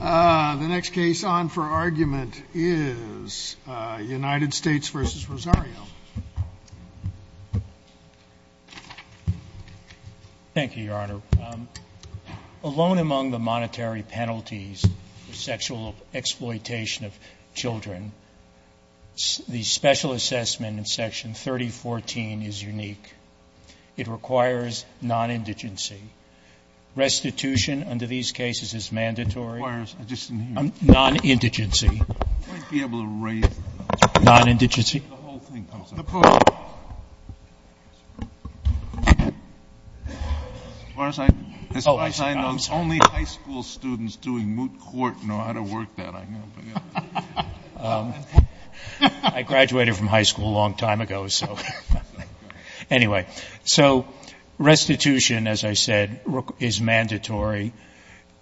Thank you, Your Honor. Alone among the monetary penalties for sexual exploitation of children, the special assessment in Section 3014 is unique. It requires non-indigency. Restitution under these cases is mandatory, and it requires the use of force. I graduated from high school a long time ago, so anyway. So restitution, as I said, is mandatory.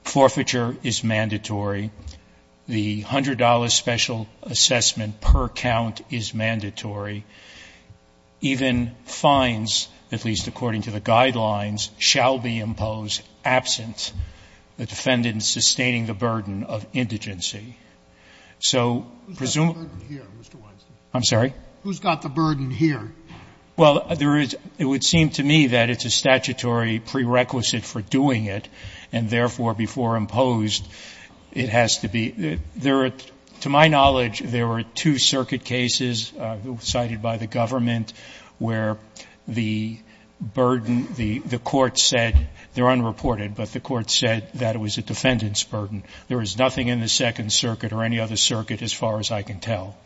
Forfeiture is mandatory. The $100 special assessment per count is mandatory. Even fines, at least according to the guidelines, shall be imposed absent the defendant's sustaining the burden of indigency. So presumably — Scalia Who's got the burden here, Mr. Weinstein? Weinstein I'm sorry? Scalia Who's got the burden here? Weinstein Well, there is — it would seem to me that it's a statutory prerequisite for doing it, and therefore, before imposed, it has to be — there are — to my knowledge, there were two circuit cases cited by the government where the burden — the court said — they're unreported, but the court said that it was a defendant's burden. There was nothing in the Second Circuit or any other circuit, as far as I can tell.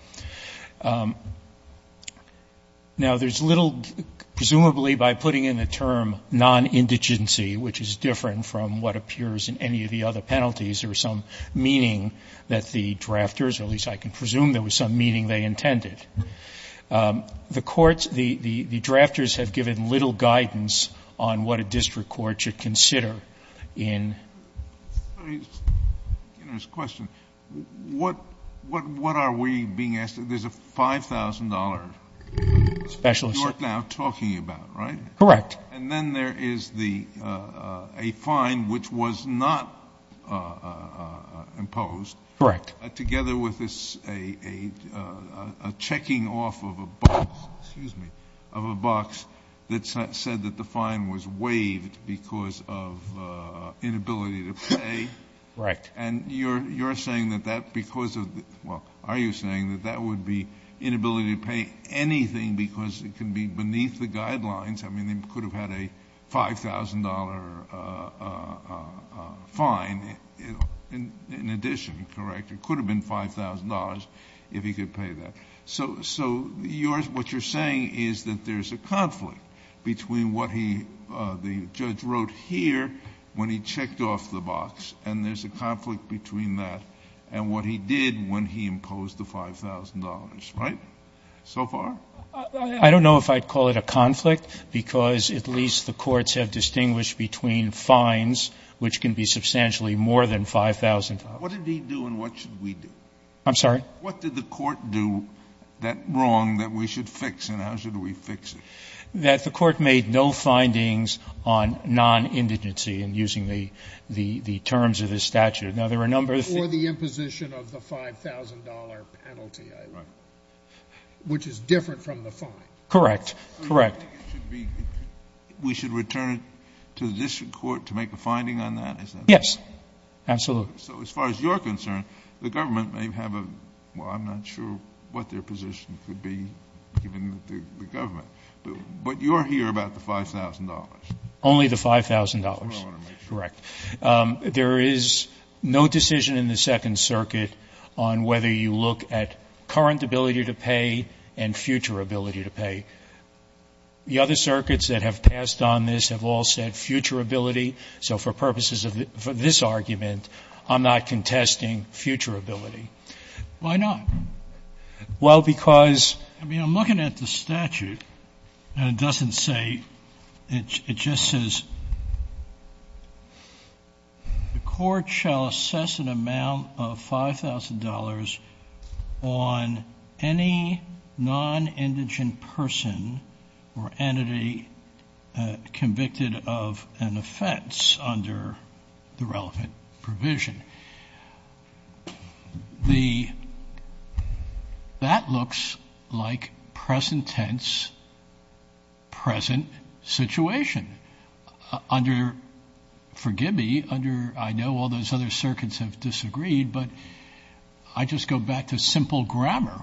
Now, there's little — presumably, by putting in the term non-indigency, which is different from what appears in any of the other penalties, there was some meaning that the drafters — or at least I can presume there was some meaning they intended. The courts — the drafters have given little guidance on what a district court should consider in — Kennedy It's a very generous question. What — what are we being asked? There's a $5,000 — Weinstein Specialist. Kennedy — you're now talking about, right? Weinstein Correct. Kennedy And then there is the — a fine which was not imposed. Weinstein Correct. Kennedy Together with this — a checking off of a box — excuse me — of a box that said that the fine was waived because of inability to pay. Weinstein Correct. Kennedy And you're — you're saying that that because of — well, are you saying that that would be inability to pay anything because it can be beneath the guidelines? I mean, they could have had a $5,000 fine in addition, correct? It could have been $5,000 if he could pay that. So — so yours — what you're saying is that there's a conflict between what he — the judge wrote here when he checked off the box, and there's a conflict between that and what he did when he imposed the $5,000, right? So far? Weinstein I don't know if I'd call it a conflict, because at least the courts have distinguished between fines, which can be substantially more than $5,000. Kennedy What did he do, and what should we do? Weinstein I'm sorry? Kennedy What did the court do that — wrong that we should fix, and how should we fix it? Weinstein That the court made no findings on non-indigency in using the — the terms of his statute. Now, there were a number of — of the $5,000 penalty, which is different from the fine. Weinstein Correct. Correct. Kennedy So you think it should be — we should return it to the district court to make a finding on that? Is that — Weinstein Yes. Absolutely. Kennedy So as far as you're concerned, the government may have a — well, I'm not sure what their position could be, given the government. But you're here about the $5,000. Weinstein Only the $5,000. Kennedy That's what I want to make sure. Weinstein Correct. There is no decision in the Second Circuit on whether you look at current ability to pay and future ability to pay. The other circuits that have passed on this have all said future ability. So for purposes of this argument, I'm not contesting future ability. Kennedy Why not? Weinstein Well, because — the court shall assess an amount of $5,000 on any non-indigent person or entity convicted of an offense under the relevant provision. The — that looks like present tense, present situation. Under — forgive me, under — I know all those other circuits have disagreed, but I just go back to simple grammar.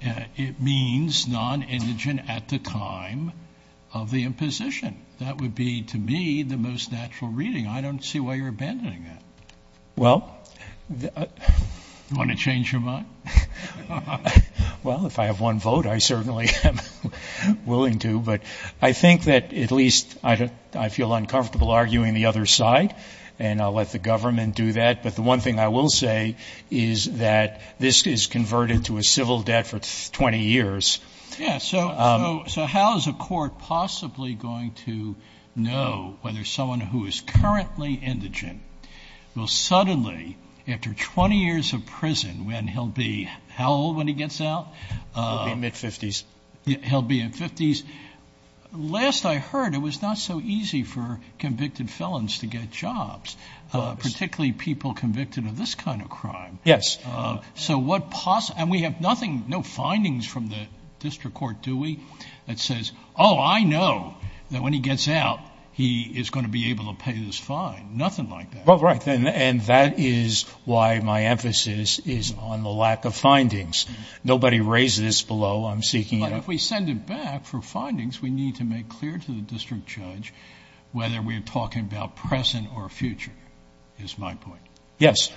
It means non-indigent at the time of the imposition. That would be, to me, the most natural reading. I don't see why you're abandoning that. Kennedy Well — Roberts Do you want to change your mind? Kennedy Well, if I have one vote, I certainly am willing to. But I think that at least I feel uncomfortable arguing the other side, and I'll let the government do that. But the one thing I will say is that this is converted to a civil debt for 20 years. Roberts Yes. So how is a court possibly going to know whether someone who is currently indigent will suddenly, after 20 years of prison, when he'll be — how old when he gets out? Kennedy He'll be in mid-50s. Roberts He'll be in 50s. Last I heard, it was not so easy for convicted felons to get jobs, particularly people convicted of this kind of crime. Kennedy Yes. Roberts And we have nothing — no findings from the district court, do we, that says, oh, I know that when he gets out, he is going to be able to pay this fine? Nothing like that. Kennedy Well, right. And that is why my emphasis is on the lack of findings. Nobody raised this below. I'm seeking — Roberts But if we send it back for findings, we need to make clear to the district judge whether we're talking about present or future, is my point. Kennedy Yes.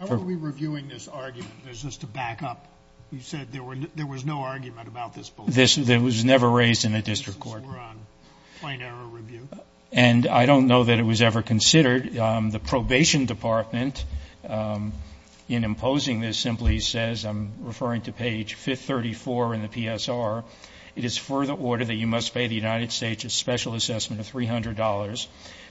How are we reviewing this argument? Is this to back up? You said there was no argument about this below. Roberts This — it was never raised in the district court. Kennedy This is more on fine error review. Roberts And I don't know that it was ever considered. The probation department, in imposing this, simply says — I'm referring to page 534 in the PSR — that you must pay the United States a special assessment of $300,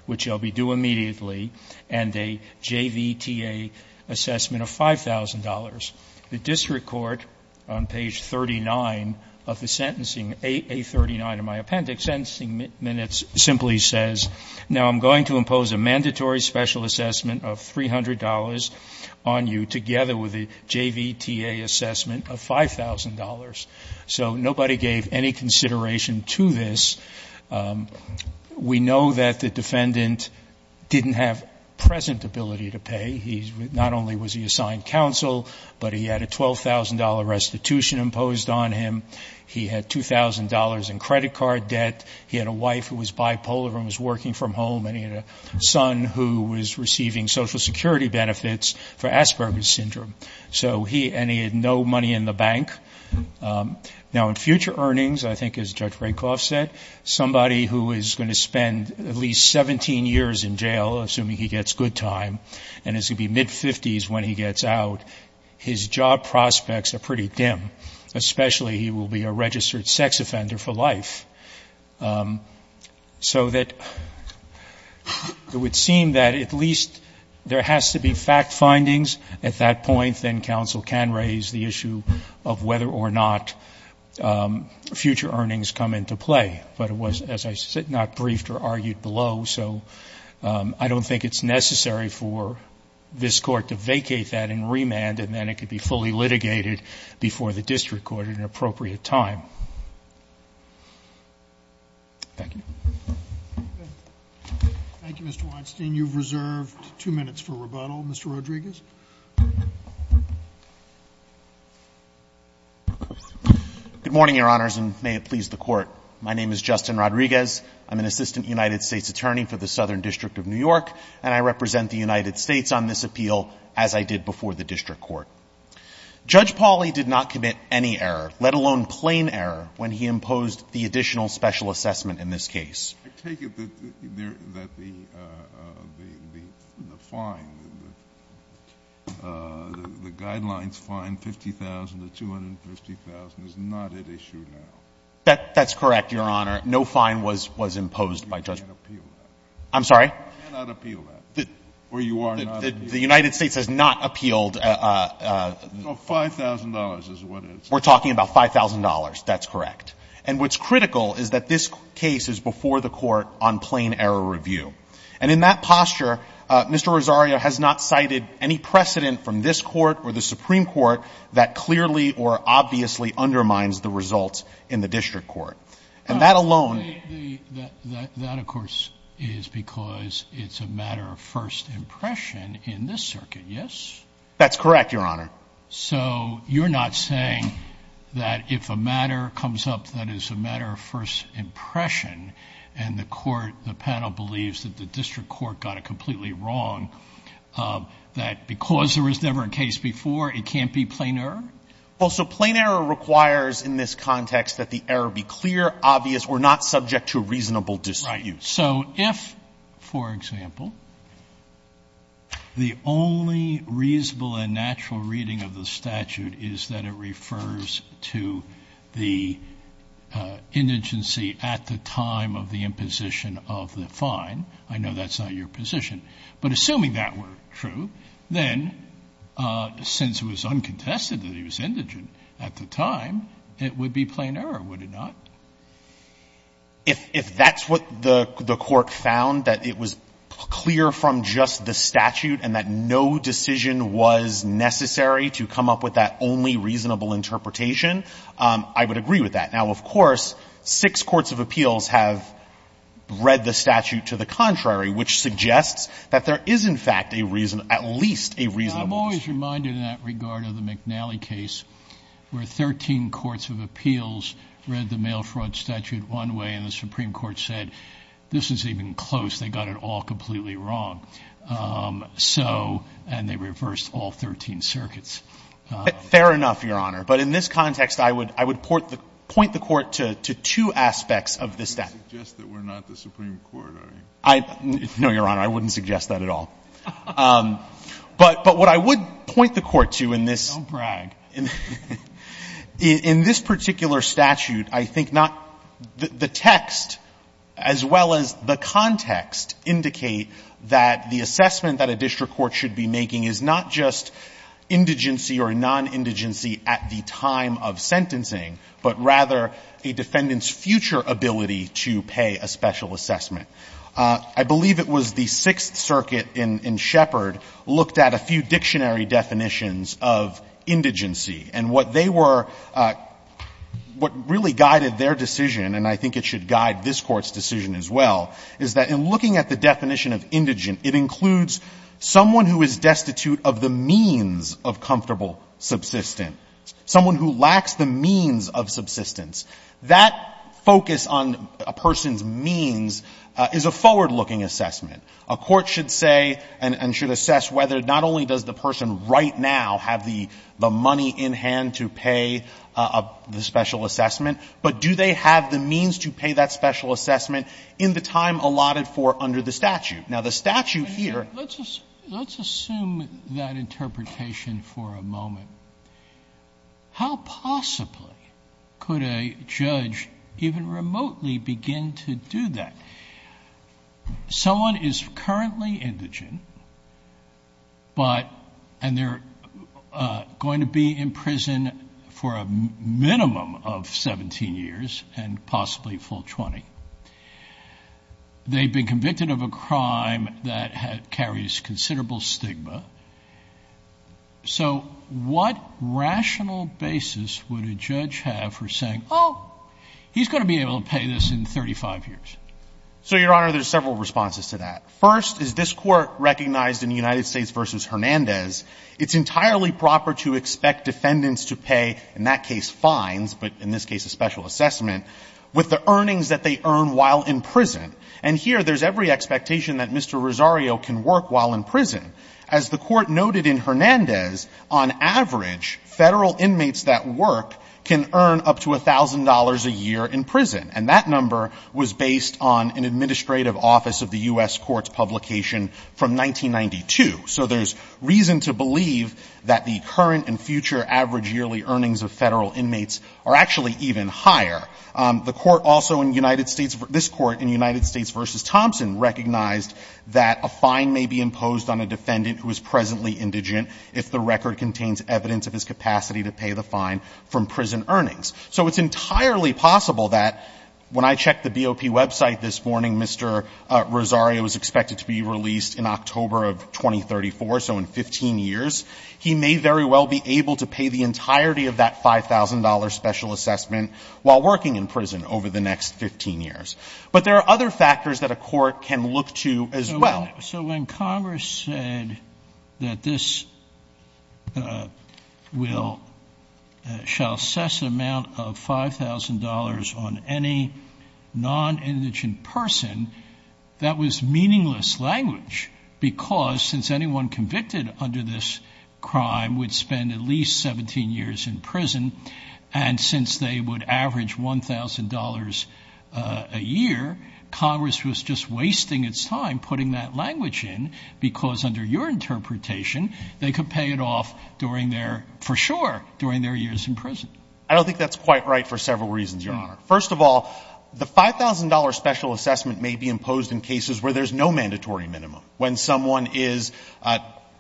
which shall be due immediately, and a JVTA assessment of $5,000. The district court, on page 39 of the sentencing, A39 of my appendix, sentencing minutes, simply says, now I'm going to impose a mandatory special assessment of $300 on you, together with a JVTA assessment of $5,000. So nobody gave any consideration to this. We know that the defendant didn't have present ability to pay. Not only was he assigned counsel, but he had a $12,000 restitution imposed on him. He had $2,000 in credit card debt. He had a wife who was bipolar and was working from home, and he had a son who was receiving Social Security benefits for Asperger's syndrome. So he — and he had no money in the bank. Now, in future earnings, I think, as Judge Rakoff said, somebody who is going to spend at least 17 years in jail, assuming he gets good time, and is going to be mid-50s when he gets out, his job prospects are pretty dim, especially he will be a registered sex offender for life. So that it would seem that at least there has to be fact findings at that point, then counsel can raise the issue of whether or not future earnings come into play. But it was, as I said, not briefed or argued below, so I don't think it's necessary for this Court to vacate that in remand, and then it could be fully litigated before the district court at an appropriate time. Thank you. Thank you, Mr. Weinstein. You've reserved two minutes for rebuttal. Mr. Rodriguez. Good morning, Your Honors, and may it please the Court. My name is Justin Rodriguez. I'm an assistant United States attorney for the Southern District of New York, and I represent the United States on this appeal, as I did before the district court. Judge Pauley did not commit any error, let alone plain error, when he imposed the additional special assessment in this case. I take it that the fine, the guidelines fine, 50,000 to 250,000, is not at issue now. That's correct, Your Honor. No fine was imposed by Judge Pauley. You cannot appeal that. I'm sorry? You cannot appeal that. Or you are not. The United States has not appealed. No, $5,000 is what it's at. We're talking about $5,000. That's correct. And what's critical is that this case is before the Court on plain error review. And in that posture, Mr. Rosario has not cited any precedent from this Court or the Supreme Court that clearly or obviously undermines the results in the district court. And that alone — That, of course, is because it's a matter of first impression in this circuit, yes? That's correct, Your Honor. So you're not saying that if a matter comes up that is a matter of first impression and the panel believes that the district court got it completely wrong, that because there was never a case before, it can't be plain error? Well, so plain error requires in this context that the error be clear, obvious. We're not subject to a reasonable dispute. Right. So if, for example, the only reasonable and natural reading of the statute is that it refers to the indigency at the time of the imposition of the fine, I know that's not your position, but assuming that were true, then since it was uncontested that he was indigent at the time, it would be plain error, would it not? If that's what the court found, that it was clear from just the statute and that no decision was necessary to come up with that only reasonable interpretation, I would agree with that. Now, of course, six courts of appeals have read the statute to the contrary, which suggests that there is, in fact, at least a reasonable dispute. I'm always reminded in that regard of the McNally case where 13 courts of appeals read the mail fraud statute one way and the Supreme Court said, this is even close, they got it all completely wrong. So, and they reversed all 13 circuits. Fair enough, Your Honor. But in this context, I would point the Court to two aspects of this statute. You suggest that we're not the Supreme Court, are you? No, Your Honor, I wouldn't suggest that at all. But what I would point the Court to in this. Don't brag. In this particular statute, I think not the text as well as the context indicate that the assessment that a district court should be making is not just indigency or non-indigency at the time of sentencing, but rather a defendant's future ability to pay a special assessment. I believe it was the Sixth Circuit in Shepard looked at a few dictionary definitions of indigency, and what they were — what really guided their decision, and I think it should guide this Court's decision as well, is that in looking at the definition of indigent, it includes someone who is destitute of the means of comfortable subsistence, someone who lacks the means of subsistence. That focus on a person's means is a forward-looking assessment. A court should say and should assess whether not only does the person right now have the money in hand to pay the special assessment, but do they have the means to pay that special assessment in the time allotted for under the statute. Now, the statute here — Sotomayor, let's assume that interpretation for a moment. How possibly could a judge even remotely begin to do that? Someone is currently indigent, and they're going to be in prison for a minimum of 17 years and possibly full 20. They've been convicted of a crime that carries considerable stigma. So what rational basis would a judge have for saying, Oh, he's going to be able to pay this in 35 years? So, Your Honor, there's several responses to that. First is this Court recognized in the United States v. Hernandez, it's entirely proper to expect defendants to pay, in that case fines, but in this case a special assessment, with the earnings that they earn while in prison. And here there's every expectation that Mr. Rosario can work while in prison. As the Court noted in Hernandez, on average, Federal inmates that work can earn up to $1,000 a year in prison. And that number was based on an administrative office of the U.S. Court's publication from 1992. So there's reason to believe that the current and future average yearly earnings of Federal inmates are actually even higher. The Court also in United States — this Court in United States v. Thompson recognized that a fine may be imposed on a defendant who is presently indigent if the record contains evidence of his capacity to pay the fine from prison earnings. So it's entirely possible that when I checked the BOP website this morning, Mr. Rosario is expected to be released in October of 2034, so in 15 years. He may very well be able to pay the entirety of that $5,000 special assessment while working in prison over the next 15 years. But there are other factors that a court can look to as well. So when Congress said that this shall assess the amount of $5,000 on any non-indigent person, that was meaningless language because since anyone convicted under this crime would spend at least 17 years in prison, and since they would average $1,000 a year, Congress was just wasting its time putting that language in because under your interpretation they could pay it off during their — for sure, during their years in prison. I don't think that's quite right for several reasons, Your Honor. First of all, the $5,000 special assessment may be imposed in cases where there's no mandatory minimum, when someone is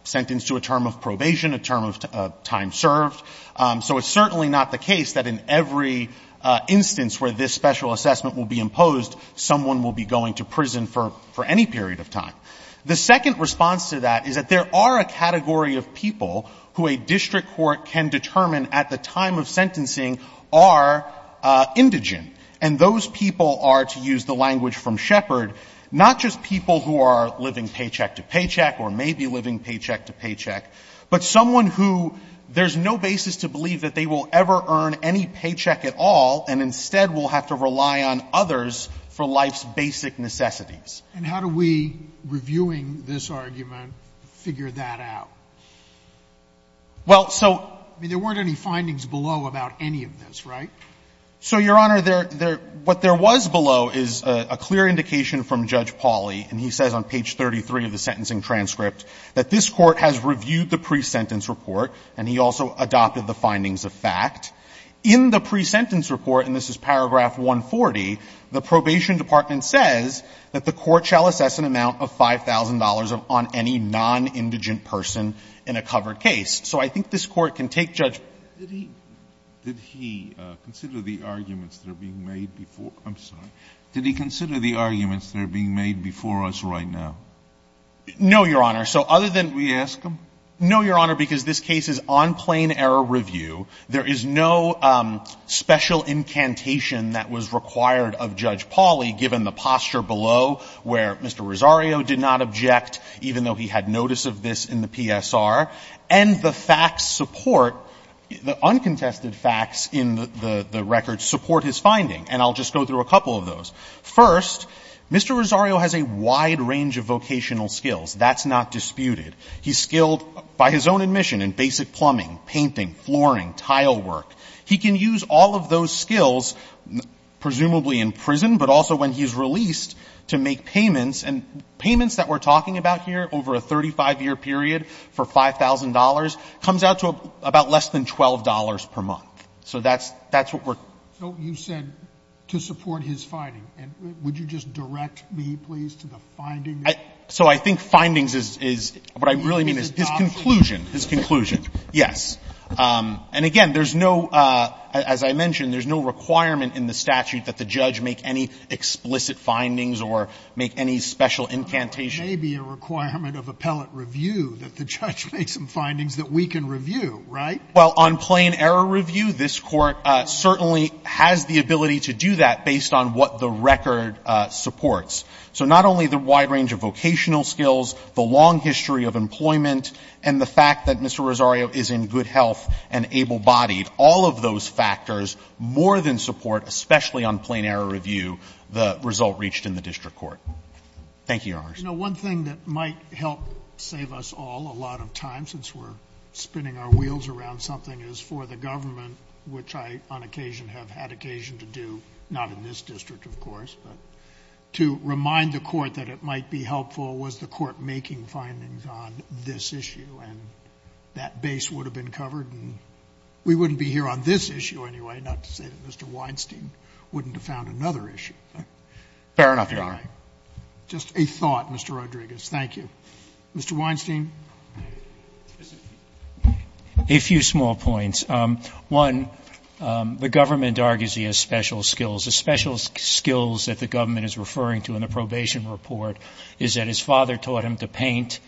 sentenced to a term of probation, a term of time served. So it's certainly not the case that in every instance where this special assessment will be imposed, someone will be going to prison for any period of time. The second response to that is that there are a category of people who a district court can determine at the time of sentencing are indigent. And those people are, to use the language from Shepard, not just people who are living paycheck to paycheck or may be living paycheck to paycheck, but someone who there's no basis to believe that they will ever earn any paycheck at all and instead will have to rely on others for life's basic necessities. And how do we, reviewing this argument, figure that out? Well, so — I mean, there weren't any findings below about any of this, right? So, Your Honor, there — what there was below is a clear indication from Judge Pauly, and he says on page 33 of the sentencing transcript, that this Court has reviewed the pre-sentence report, and he also adopted the findings of fact. In the pre-sentence report, and this is paragraph 140, the probation department says that the Court shall assess an amount of $5,000 on any non-indigent person in a covered case. So I think this Court can take Judge — Did he consider the arguments that are being made before — I'm sorry. Did he consider the arguments that are being made before us right now? No, Your Honor. So other than — Can we ask him? No, Your Honor, because this case is on plain error review. There is no special incantation that was required of Judge Pauly, given the posture below, where Mr. Rosario did not object, even though he had notice of this in the PSR, and the facts support — the uncontested facts in the record support his finding. And I'll just go through a couple of those. First, Mr. Rosario has a wide range of vocational skills. That's not disputed. He's skilled, by his own admission, in basic plumbing, painting, flooring, tile work. He can use all of those skills, presumably in prison, but also when he's released, to make payments. And payments that we're talking about here, over a 35-year period for $5,000, comes out to about less than $12 per month. So that's — that's what we're — So you said to support his finding. And would you just direct me, please, to the findings? So I think findings is — what I really mean is his conclusion. His conclusion, yes. And again, there's no — as I mentioned, there's no requirement in the statute that the judge make any explicit findings or make any special incantation. It may be a requirement of appellate review that the judge make some findings that we can review, right? Well, on plain error review, this Court certainly has the ability to do that based on what the record supports. So not only the wide range of vocational skills, the long history of employment, and the fact that Mr. Rosario is in good health and able-bodied, all of those factors more than support, especially on plain error review, the result reached in the district court. Thank you, Your Honors. You know, one thing that might help save us all a lot of time, since we're spinning our wheels around something, is for the government, which I, on occasion, have had occasion to do — not in this district, of course, but to remind the Court that it might be helpful was the Court making findings on this issue. And that base would have been covered, and we wouldn't be here on this issue anyway, not to say that Mr. Weinstein wouldn't have found another issue. Fair enough, Your Honor. Just a thought, Mr. Rodriguez. Thank you. Mr. Weinstein. A few small points. One, the government argues he has special skills. The special skills that the government is referring to in the probation report is that his father taught him to paint,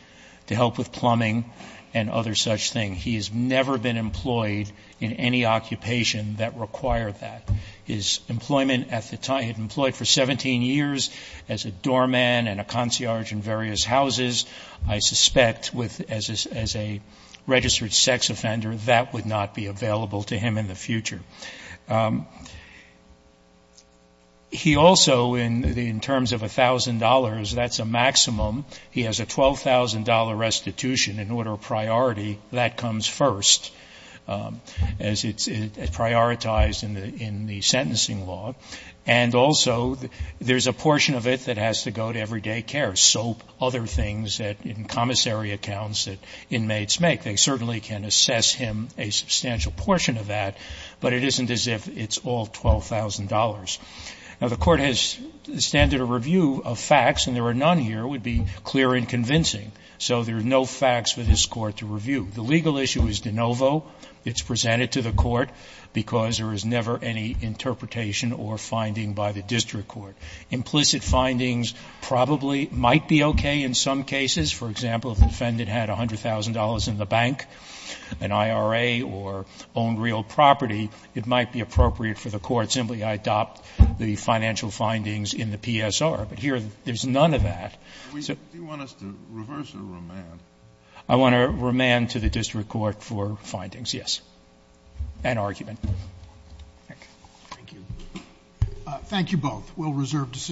to help with plumbing, and other such things. He has never been employed in any occupation that required that. His employment at the time — he had been employed for 17 years as a doorman and a concierge in various houses. I suspect, as a registered sex offender, that would not be available to him in the future. He also, in terms of $1,000, that's a maximum. He has a $12,000 restitution in order of priority. That comes first, as it's prioritized in the sentencing law. And also, there's a portion of it that has to go to everyday care, soap, other things in commissary accounts that inmates make. They certainly can assess him a substantial portion of that, but it isn't as if it's all $12,000. Now, the Court has the standard of review of facts, and there are none here that would be clear and convincing. So there are no facts for this Court to review. The legal issue is de novo. It's presented to the Court because there is never any interpretation or finding by the district court. Implicit findings probably might be okay in some cases. For example, if the defendant had $100,000 in the bank, an IRA, or owned real property, it might be appropriate for the Court simply to adopt the financial findings in the PSR. But here, there's none of that. So do you want us to reverse or remand? I want to remand to the district court for findings, yes, and argument. Thank you. Thank you both. We'll reserve decisions.